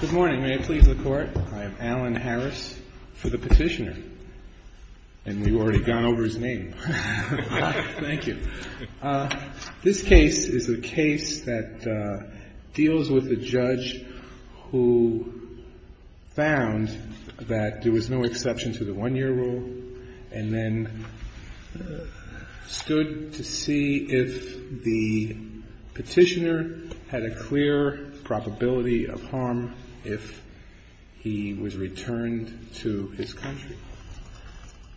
Good morning. May it please the Court. I am Alan Harris for the petitioner. And we've already gone over his name. Thank you. This case is a case that deals with a judge who found that there was no exception to the one-year rule and then stood to see if the petitioner had a clear probability of harm if he was returned to his country.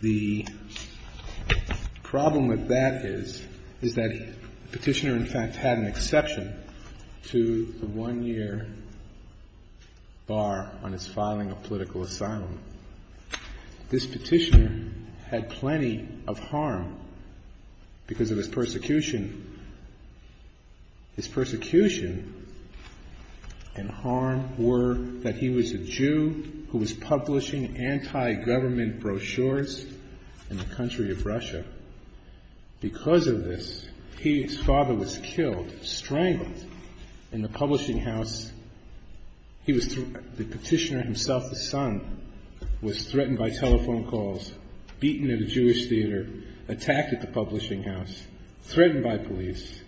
The problem with that is that the petitioner, in fact, had an exception to the one-year bar on his filing of political asylum. This petitioner had plenty of harm because of his persecution. His persecution and harm were that he was a Jew who was publishing anti-government brochures in the country of Russia. Because of this, his father was killed, strangled, in the publishing house. He was the petitioner himself, his son, was threatened by telephone calls, beaten at a Jewish theater, attacked at the publishing house, threatened by police.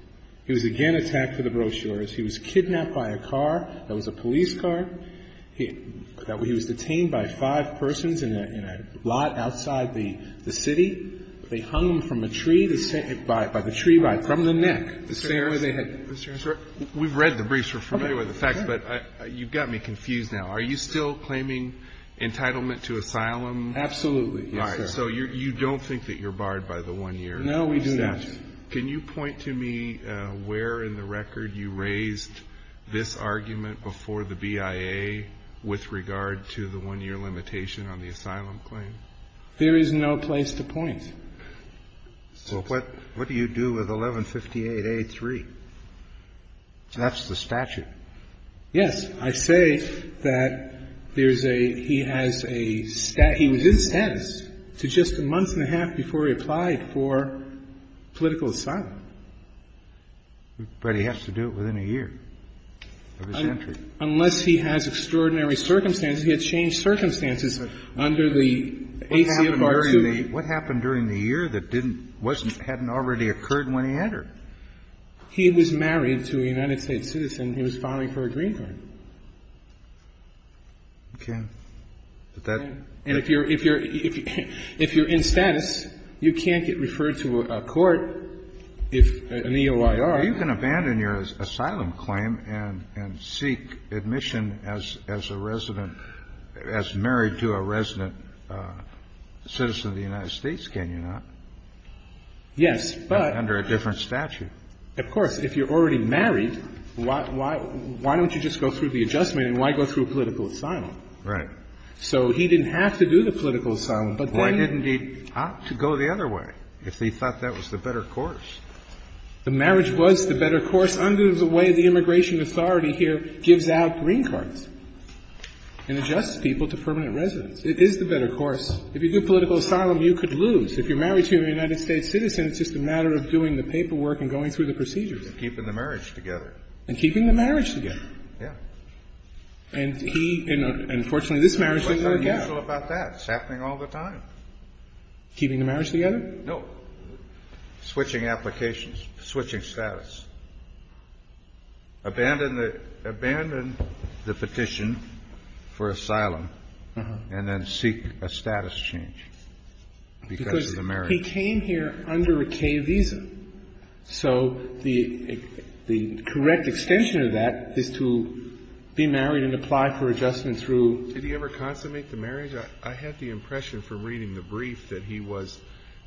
He was again attacked for the brochures. He was kidnapped by a car that was a police car. He was detained by five persons in a lot outside the city. They hung him from a tree, by the tree right from the neck. The same way they had been. We've read the briefs. We're familiar with the facts. But you've got me confused now. Are you still claiming entitlement to asylum? Absolutely. Yes, sir. All right. So you don't think that you're barred by the one-year statute? No, we do not. Can you point to me where in the record you raised this argument before the BIA with regard to the one-year limitation on the asylum claim? There is no place to point. Well, what do you do with 1158A3? That's the statute. Yes. I say that there's a ‑‑ he has a ‑‑ he was in status to just a month and a half before he applied for political asylum. But he has to do it within a year of his entry. Unless he has extraordinary circumstances. He had changed circumstances under the AC of R2. What happened during the year that hadn't already occurred when he entered? He was married to a United States citizen. He was filing for a green card. Okay. And if you're in status, you can't get referred to a court if an EOIR. You can abandon your asylum claim and seek admission as a resident, as married to a resident citizen of the United States, can you not? Yes, but ‑‑ Under a different statute. Of course. If you're already married, why don't you just go through the adjustment and why go through political asylum? Right. So he didn't have to do the political asylum, but then ‑‑ Why didn't he opt to go the other way if he thought that was the better course? The marriage was the better course under the way the immigration authority here gives out green cards and adjusts people to permanent residence. It is the better course. If you do political asylum, you could lose. If you're married to a United States citizen, it's just a matter of doing the paperwork and going through the procedures. Keeping the marriage together. And keeping the marriage together. Yes. And he ‑‑ and, unfortunately, this marriage didn't work out. What's unusual about that? It's happening all the time. Keeping the marriage together? No. Switching applications. Switching status. Abandon the ‑‑ abandon the petition for asylum and then seek a status change because of the marriage. Because he came here under a K visa. So the correct extension of that is to be married and apply for adjustment through ‑‑ Did he ever consummate the marriage? I had the impression from reading the brief that he was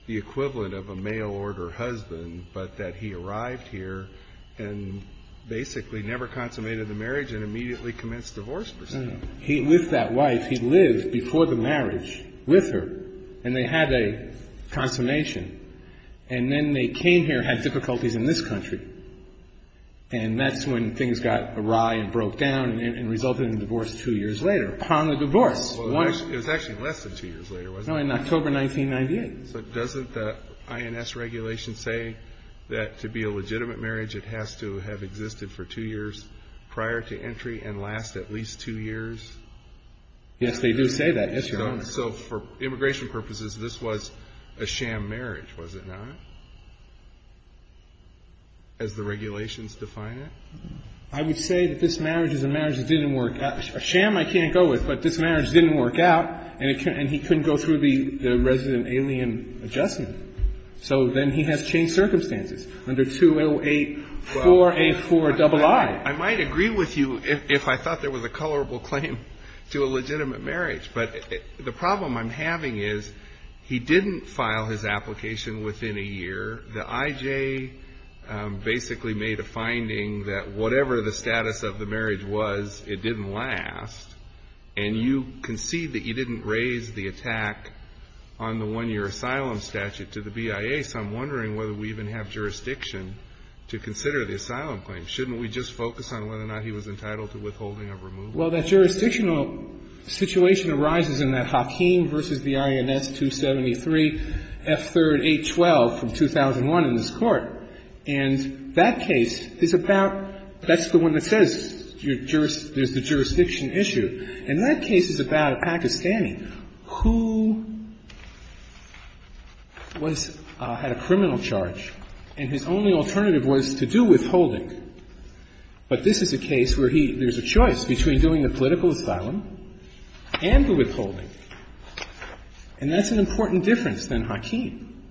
the equivalent of a mail order husband but that he arrived here and basically never consummated the marriage and immediately commenced divorce per se. With that wife, he lived before the marriage with her. And they had a consummation. And then they came here and had difficulties in this country. And that's when things got awry and broke down and resulted in a divorce two years later. Upon the divorce. It was actually less than two years later, wasn't it? No, in October 1998. So doesn't the INS regulation say that to be a legitimate marriage, it has to have existed for two years prior to entry and last at least two years? Yes, they do say that, yes, Your Honor. So for immigration purposes, this was a sham marriage, was it not? As the regulations define it? I would say that this marriage is a marriage that didn't work out. A sham I can't go with, but this marriage didn't work out and he couldn't go through the resident alien adjustment. So then he has changed circumstances under 208-484-II. I might agree with you if I thought there was a colorable claim to a legitimate marriage. But the problem I'm having is he didn't file his application within a year. The IJ basically made a finding that whatever the status of the marriage was, it didn't last. And you concede that you didn't raise the attack on the one-year asylum statute to the BIA. So I'm wondering whether we even have jurisdiction to consider the asylum claim. Shouldn't we just focus on whether or not he was entitled to withholding or removal? Well, that jurisdictional situation arises in that Hakim v. the INS 273, F3-812 from 2001 in this Court. And that case is about — that's the one that says there's the jurisdiction issue. And that case is about a Pakistani who was — had a criminal charge, and his only alternative was to do withholding. But this is a case where he — there's a choice between doing a political asylum and the withholding. And that's an important difference than Hakim,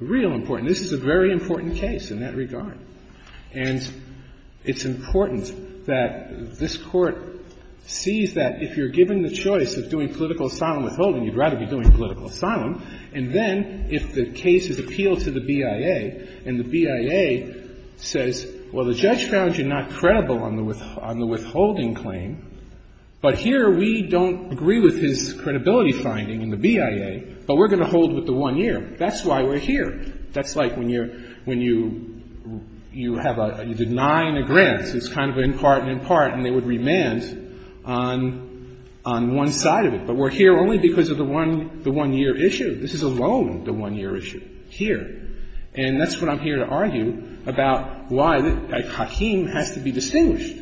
real important. This is a very important case in that regard. And it's important that this Court sees that if you're given the choice of doing political asylum withholding, you'd rather be doing political asylum. And then, if the case is appealed to the BIA, and the BIA says, well, the judge found you not credible on the withholding claim, but here we don't agree with his credibility finding in the BIA, but we're going to hold with the one-year. That's why we're here. That's like when you're — when you have a — you deny a grant. It's kind of an impart and impart, and they would remand on one side of it. But we're here only because of the one-year issue. This is alone the one-year issue here. And that's what I'm here to argue about why Hakim has to be distinguished.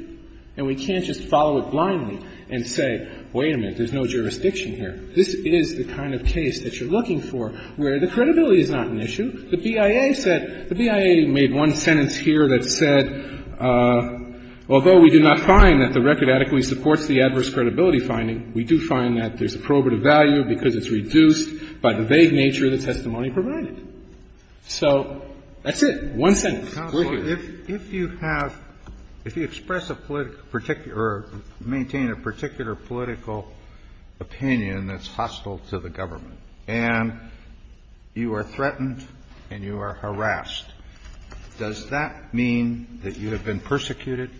And we can't just follow it blindly and say, wait a minute, there's no jurisdiction here. This is the kind of case that you're looking for where the credibility is not an issue. The BIA said — the BIA made one sentence here that said, although we do not find that the record adequately supports the adverse credibility finding, we do find that there's a probative value because it's reduced by the vague nature of the testimony provided. So that's it. We're here. Kennedy. Counsel, if you have — if you express a political — or maintain a particular political opinion that's hostile to the government, and you are threatened and you are harassed, does that mean that you have been persecuted?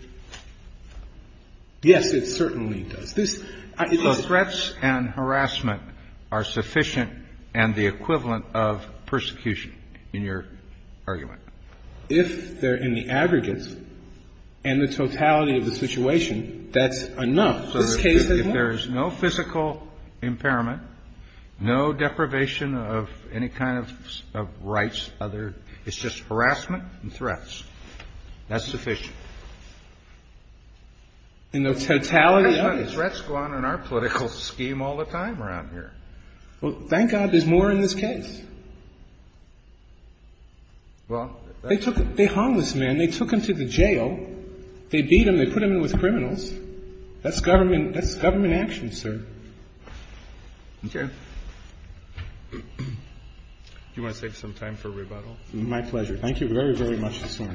Yes, it certainly does. This — So threats and harassment are sufficient and the equivalent of persecution in your argument. If they're in the aggregate and the totality of the situation, that's enough. This case is not. So if there is no physical impairment, no deprivation of any kind of rights, other — it's just harassment and threats. That's sufficient. In the totality of it. Threats go on in our political scheme all the time around here. Well, thank God there's more in this case. Well, that's — They took — they hung this man. They took him to the jail. They beat him. They put him in with criminals. That's government — that's government action, sir. Okay. Do you want to save some time for rebuttal? My pleasure. Thank you very, very much, Mr.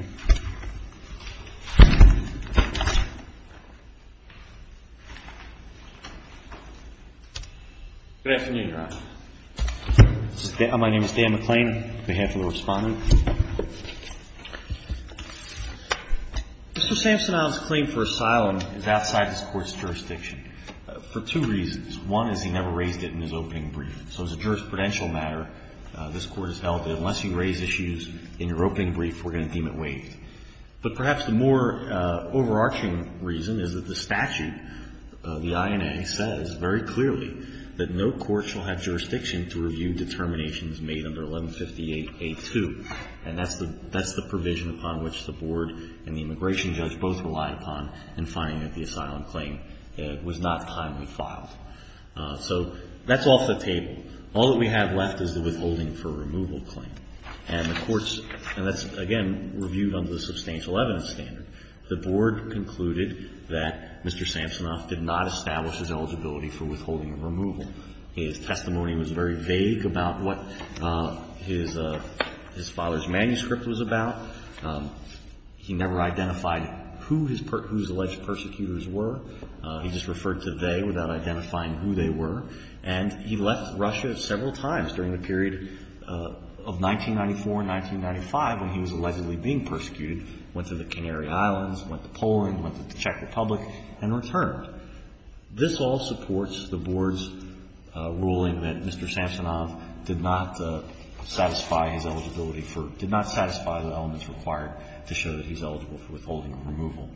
Sorensen. Good afternoon, Your Honor. My name is Dan McClain, on behalf of the Respondent. Mr. Samsonow's claim for asylum is outside this Court's jurisdiction for two reasons. One is he never raised it in his opening brief. So as a jurisprudential matter, this Court has held that unless you raise issues in your But perhaps the more overarching reason is that the statute, the INA, says very clearly that no court shall have jurisdiction to review determinations made under 1158A2. And that's the provision upon which the Board and the immigration judge both relied upon in finding that the asylum claim was not timely filed. So that's off the table. All that we have left is the withholding for removal claim. And that's, again, reviewed under the substantial evidence standard. The Board concluded that Mr. Samsonow did not establish his eligibility for withholding and removal. His testimony was very vague about what his father's manuscript was about. He never identified who his alleged persecutors were. He just referred to they without identifying who they were. And he left Russia several times during the period of 1994 and 1995 when he was allegedly being persecuted. Went to the Canary Islands, went to Poland, went to the Czech Republic, and returned. This all supports the Board's ruling that Mr. Samsonow did not satisfy his eligibility for did not satisfy the elements required to show that he's eligible for withholding and removal.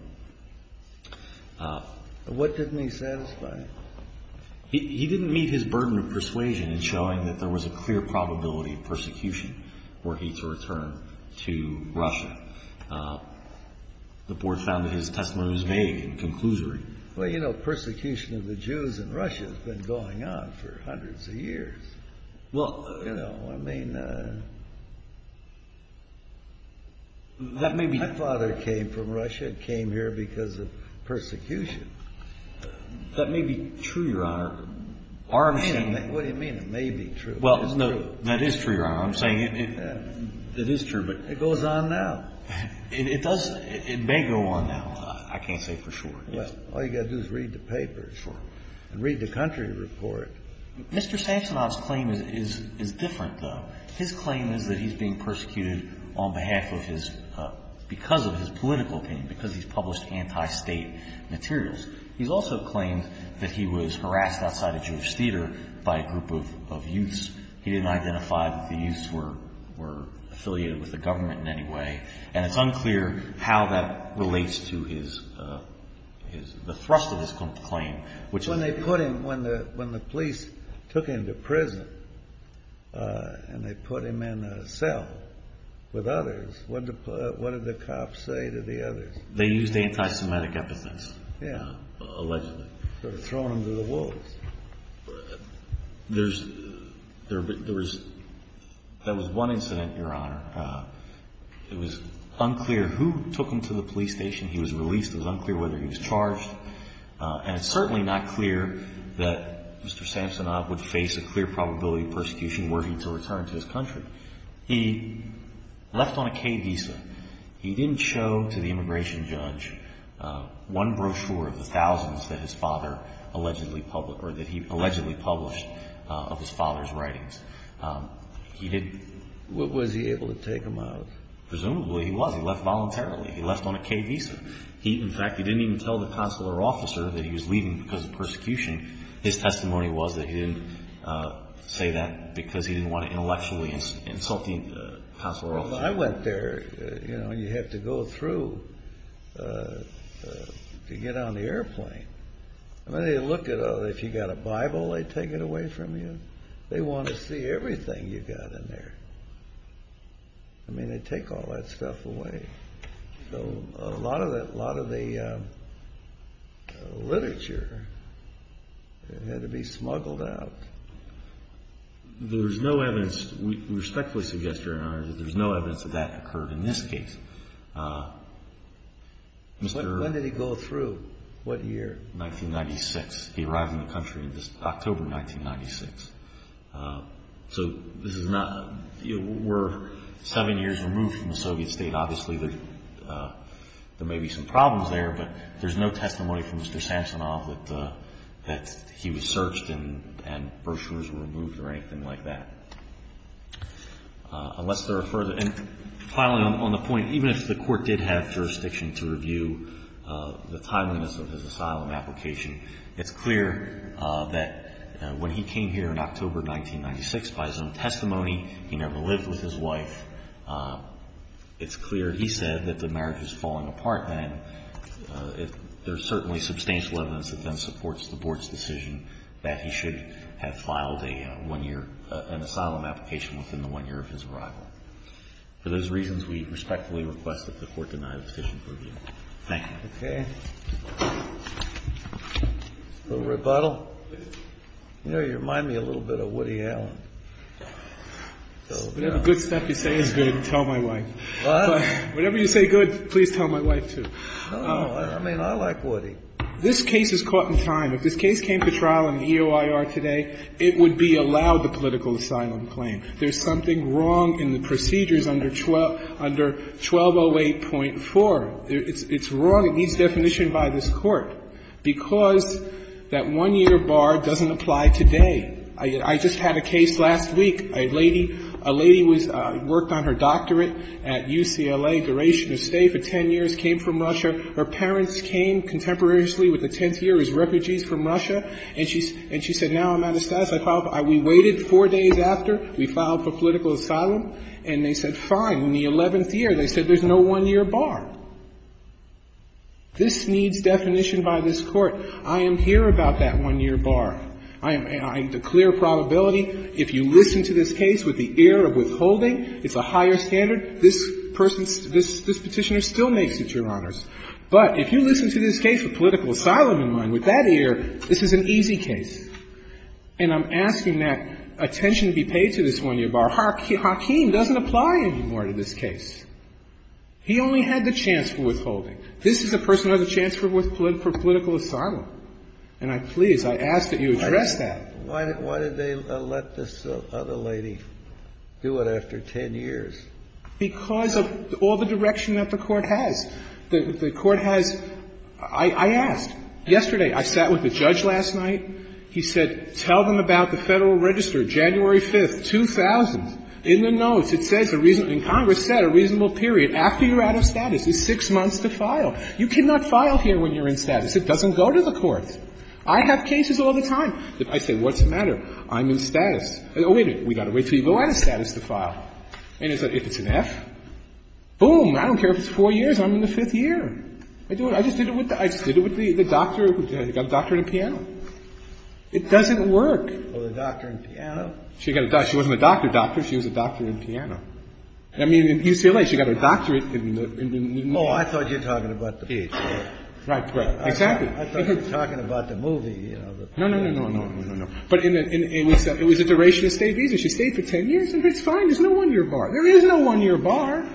What didn't he satisfy? He didn't meet his burden of persuasion in showing that there was a clear probability of persecution were he to return to Russia. The Board found that his testimony was vague and conclusory. Well, you know, persecution of the Jews in Russia has been going on for hundreds of years. Well, you know, I mean, my father came from Russia, came here because of persecution. That may be true, Your Honor. What do you mean, it may be true? Well, no, that is true, Your Honor. I'm saying it is true. It goes on now. It does. It may go on now. I can't say for sure. All you've got to do is read the papers and read the country report. Mr. Samsonow's claim is different, though. His claim is that he's being persecuted on behalf of his – because of his political opinion, because he's published anti-state materials. He's also claimed that he was harassed outside a Jewish theater by a group of youths. He didn't identify that the youths were affiliated with the government in any way, and it's unclear how that relates to the thrust of his claim. When the police took him to prison and they put him in a cell with others, what did the cops say to the others? They used anti-Semitic epithets. Yeah. Allegedly. Sort of thrown him to the wolves. There was one incident, Your Honor. It was unclear who took him to the police station. He was released. It was unclear whether he was charged, and it's certainly not clear that Mr. Samsonow would face a clear probability of persecution were he to return to his country. He left on a K visa. He didn't show to the immigration judge one brochure of the thousands that his father allegedly – or that he allegedly published of his father's writings. He didn't – Was he able to take them out? Presumably he was. He left voluntarily. He left on a K visa. In fact, he didn't even tell the consular officer that he was leaving because of persecution. His testimony was that he didn't say that because he didn't want to intellectually insult the consular officer. Well, I went there. You know, you have to go through to get on the airplane. I mean, if you've got a Bible, they take it away from you. They want to see everything you've got in there. I mean, they take all that stuff away. So a lot of the literature had to be smuggled out. There's no evidence. We respectfully suggest, Your Honor, that there's no evidence that that occurred in this case. When did he go through? What year? 1996. He arrived in the country in October 1996. So this is not – we're seven years removed from the Soviet state. Obviously, there may be some problems there, but there's no testimony from Mr. Samsonov that he was searched and brochures were removed or anything like that. Unless there are further – and finally, on the point, even if the court did have jurisdiction to review the timeliness of his asylum application, it's clear that when he came here in October 1996 by his own testimony, he never lived with his wife. It's clear he said that the marriage was falling apart then. There's certainly substantial evidence that then supports the Board's decision that he should have filed a one-year – an asylum application within the one year of his arrival. For those reasons, we respectfully request that the court deny the decision for review. Thank you. Okay. A little rebuttal? You know, you remind me a little bit of Woody Allen. Whatever good stuff you say is good, tell my wife. What? Whatever you say good, please tell my wife, too. No. I mean, I like Woody. This case is caught in time. If this case came to trial in EOIR today, it would be allowed the political asylum claim. There's something wrong in the procedures under 1208.4. It's wrong. It needs definition by this Court. Because that one-year bar doesn't apply today. I just had a case last week. A lady was – worked on her doctorate at UCLA, duration of stay for 10 years, came from Russia. Her parents came contemporaneously with the 10th year as refugees from Russia. And she said, now I'm out of status. We waited. Four days after, we filed for political asylum. And they said, fine. In the 11th year, they said there's no one-year bar. This needs definition by this Court. I am here about that one-year bar. I declare probability. If you listen to this case with the ear of withholding, it's a higher standard. This person's – this Petitioner still makes it, Your Honors. But if you listen to this case with political asylum in mind, with that ear, this is an easy case. And I'm asking that attention be paid to this one-year bar. Hakeem doesn't apply anymore to this case. He only had the chance for withholding. This is a person who has a chance for political asylum. And I'm pleased. I ask that you address that. Kennedy. Why did they let this other lady do it after 10 years? Because of all the direction that the Court has. The Court has – I asked. Yesterday, I sat with the judge last night. He said, tell them about the Federal Register, January 5th, 2000. In the notes, it says a reasonable – and Congress said a reasonable period after you're out of status is six months to file. You cannot file here when you're in status. It doesn't go to the courts. I have cases all the time. I say, what's the matter? I'm in status. Oh, wait a minute. We've got to wait until you go out of status to file. And if it's an F, boom, I don't care if it's four years, I'm in the fifth year. I just did it with the doctor who got a doctorate in piano. It doesn't work. Oh, the doctor in piano? She got a doctorate. She wasn't a doctor doctor. She was a doctor in piano. I mean, in UCLA, she got a doctorate in the – Oh, I thought you're talking about the PhD. Right, right. Exactly. I thought you were talking about the movie. No, no, no, no, no, no, no. But in the – it was a duration of stay visa. She stayed for 10 years. It's fine. There's no one-year bar. There is no one-year bar.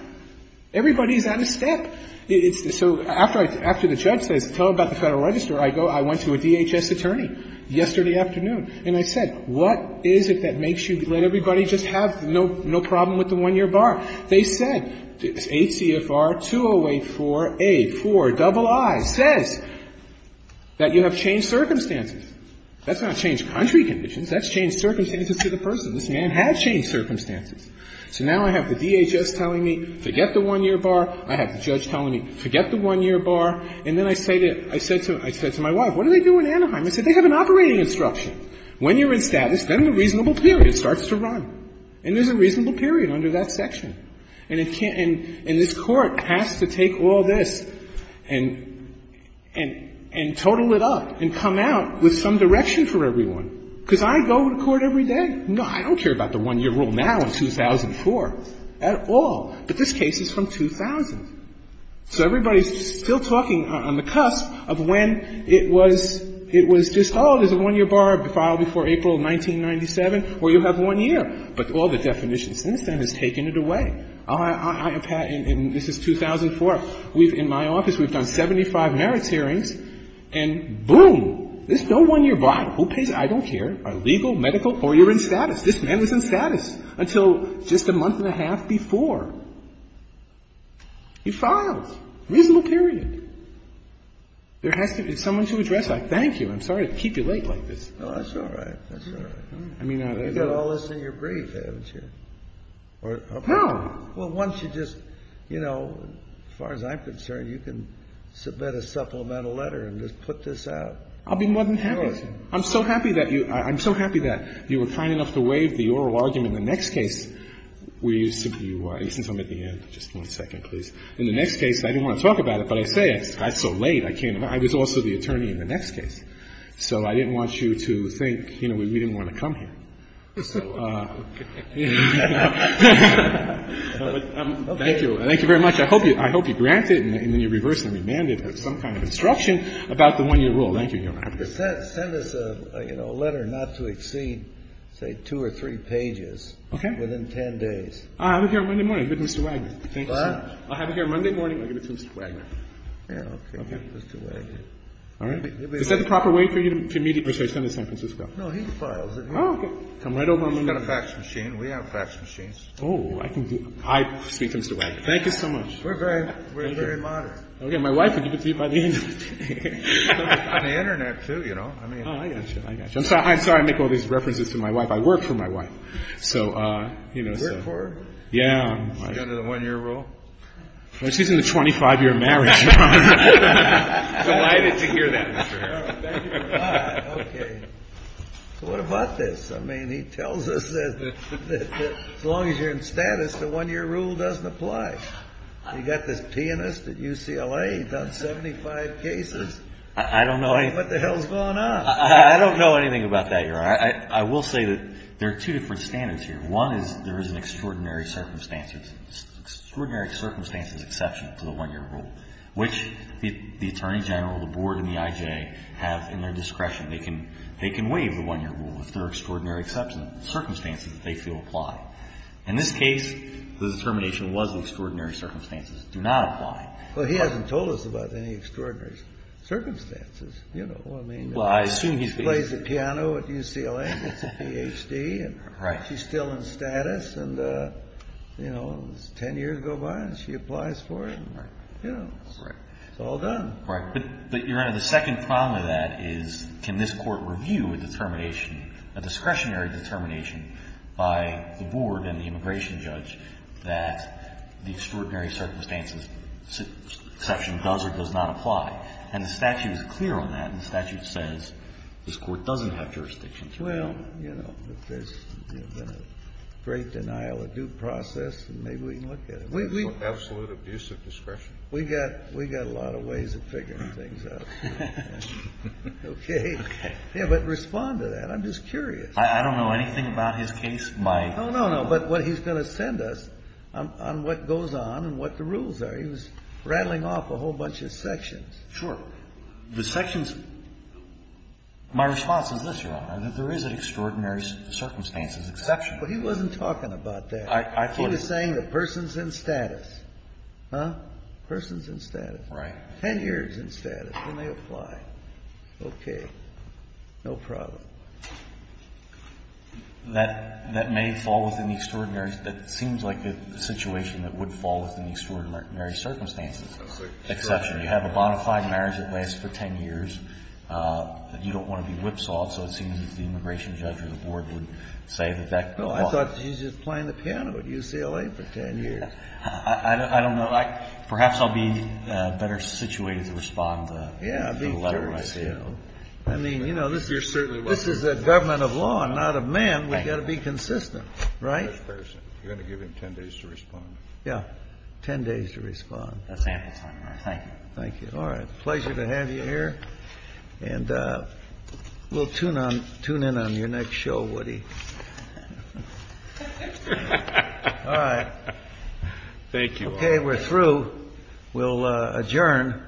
Everybody is out of step. It's – so after I – after the judge says tell about the Federal Register, I go – I went to a DHS attorney yesterday afternoon, and I said, what is it that makes you let everybody just have no problem with the one-year bar? They said, ACFR-208-4A-4-II says that you have changed circumstances. That's not changed country conditions. That's changed circumstances to the person. This man has changed circumstances. So now I have the DHS telling me, forget the one-year bar. I have the judge telling me, forget the one-year bar. And then I say to – I said to my wife, what do they do in Anaheim? I said, they have an operating instruction. When you're in status, then the reasonable period starts to run. And there's a reasonable period under that section. And it can't – and this Court has to take all this and total it up and come out with some direction for everyone. Because I go to court every day. No, I don't care about the one-year rule now in 2004 at all. But this case is from 2000. So everybody's still talking on the cusp of when it was – it was just, oh, there's a one-year bar filed before April of 1997, where you have one year. But all the definitions since then has taken it away. I have had – and this is 2004. We've – in my office, we've done 75 merits hearings, and boom, there's no one-year bar. Who pays? I don't care. Are legal, medical, or you're in status. This man was in status until just a month and a half before he filed. Reasonable period. There has to be someone to address that. Thank you. I'm sorry to keep you late like this. No, that's all right. That's all right. I mean, I – You've got all this in your brief, haven't you? No. Well, once you just – you know, as far as I'm concerned, you can submit a supplemental letter and just put this out. I'll be more than happy to. I'm so happy that you – I'm so happy that you were kind enough to waive the oral argument in the next case. We used to – and since I'm at the end, just one second, please. In the next case, I didn't want to talk about it, but I say it. It's so late, I can't – I was also the attorney in the next case. So I didn't want you to think, you know, we didn't want to come here. Thank you. Thank you very much. I hope you grant it, and then you reverse and remand it with some kind of instruction about the one-year rule. Thank you. Send us a, you know, letter not to exceed, say, two or three pages. Okay. Within 10 days. I'll be here on Monday morning with Mr. Wagner. Thank you so much. I'll have you here on Monday morning. I'll give it to Mr. Wagner. Yeah, okay. Mr. Wagner. All right. Is that the proper way for you to immediately send it to San Francisco? No, he files it. Oh, okay. Come right over on Monday morning. He's got a fax machine. We have fax machines. Oh, I can do – I speak to Mr. Wagner. Thank you so much. We're very – we're very moderate. Thank you. Okay. My wife will give it to you by the end of the day. On the Internet, too, you know. I mean – Oh, I got you. I got you. I'm sorry I make all these references to my wife. I work for my wife. So, you know, so – You work for her? Yeah. Is she under the one-year rule? She's in the 25-year marriage. Delighted to hear that, Mr. Harold. Thank you. All right. Okay. So what about this? I mean, he tells us that as long as you're in status, the one-year rule doesn't apply. I mean, you've got to be kidding me. I mean, you've got to be kidding me. I mean, you've got to be kidding me. I don't know anything – What the hell's going on? I don't know anything about that, Your Honor. I will say that there are two different standards here. One is there is an extraordinary circumstances – extraordinary circumstances exception to the one-year rule, which the Attorney General, the Board, and the IJ have in their discretion. They can waive the one-year rule if there are extraordinary circumstances that they feel apply. In this case, the determination was that extraordinary circumstances do not apply. Well, he hasn't told us about any extraordinary circumstances. You know, I mean – Well, I assume he's – He plays the piano at UCLA. He's a Ph.D. Right. And she's still in status. And, you know, ten years go by and she applies for it. Right. You know. Right. It's all done. Right. But, Your Honor, the second problem with that is can this Court review a determination, a discretionary determination, by the Board and the immigration judge that the extraordinary circumstances exception does or does not apply? And the statute is clear on that. And the statute says this Court doesn't have jurisdiction to do that. Well, you know, if there's been a great denial of due process, then maybe we can look at it. We've got absolute abuse of discretion. We've got a lot of ways of figuring things out. Okay? Okay. Yeah, but respond to that. I'm just curious. I don't know anything about his case by – No, no, no. But what he's going to send us on what goes on and what the rules are, he was rattling off a whole bunch of sections. Sure. The sections – my response is this, Your Honor, that there is an extraordinary circumstances exception. But he wasn't talking about that. I thought – He was saying the person's in status. Huh? Person's in status. Right. Ten years in status, then they apply. Okay. No problem. That may fall within the extraordinary – that seems like the situation that would fall within the extraordinary circumstances exception. You have a bona fide marriage that lasts for ten years. You don't want to be whipsawed, so it seems that the immigration judge or the board would say that that – Well, I thought he was just playing the piano at UCLA for ten years. I don't know. Perhaps I'll be better situated to respond to the letter when I see it. Yeah. I mean, you know, this is – This is a government of law and not of man. We've got to be consistent. Right? You're going to give him ten days to respond. Yeah. Ten days to respond. That's ample time, Your Honor. Thank you. Thank you. All right. Pleasure to have you here. And we'll tune in on your next show, Woody. All right. Thank you. Okay, we're through. We'll adjourn. All rise. Court is adjourned.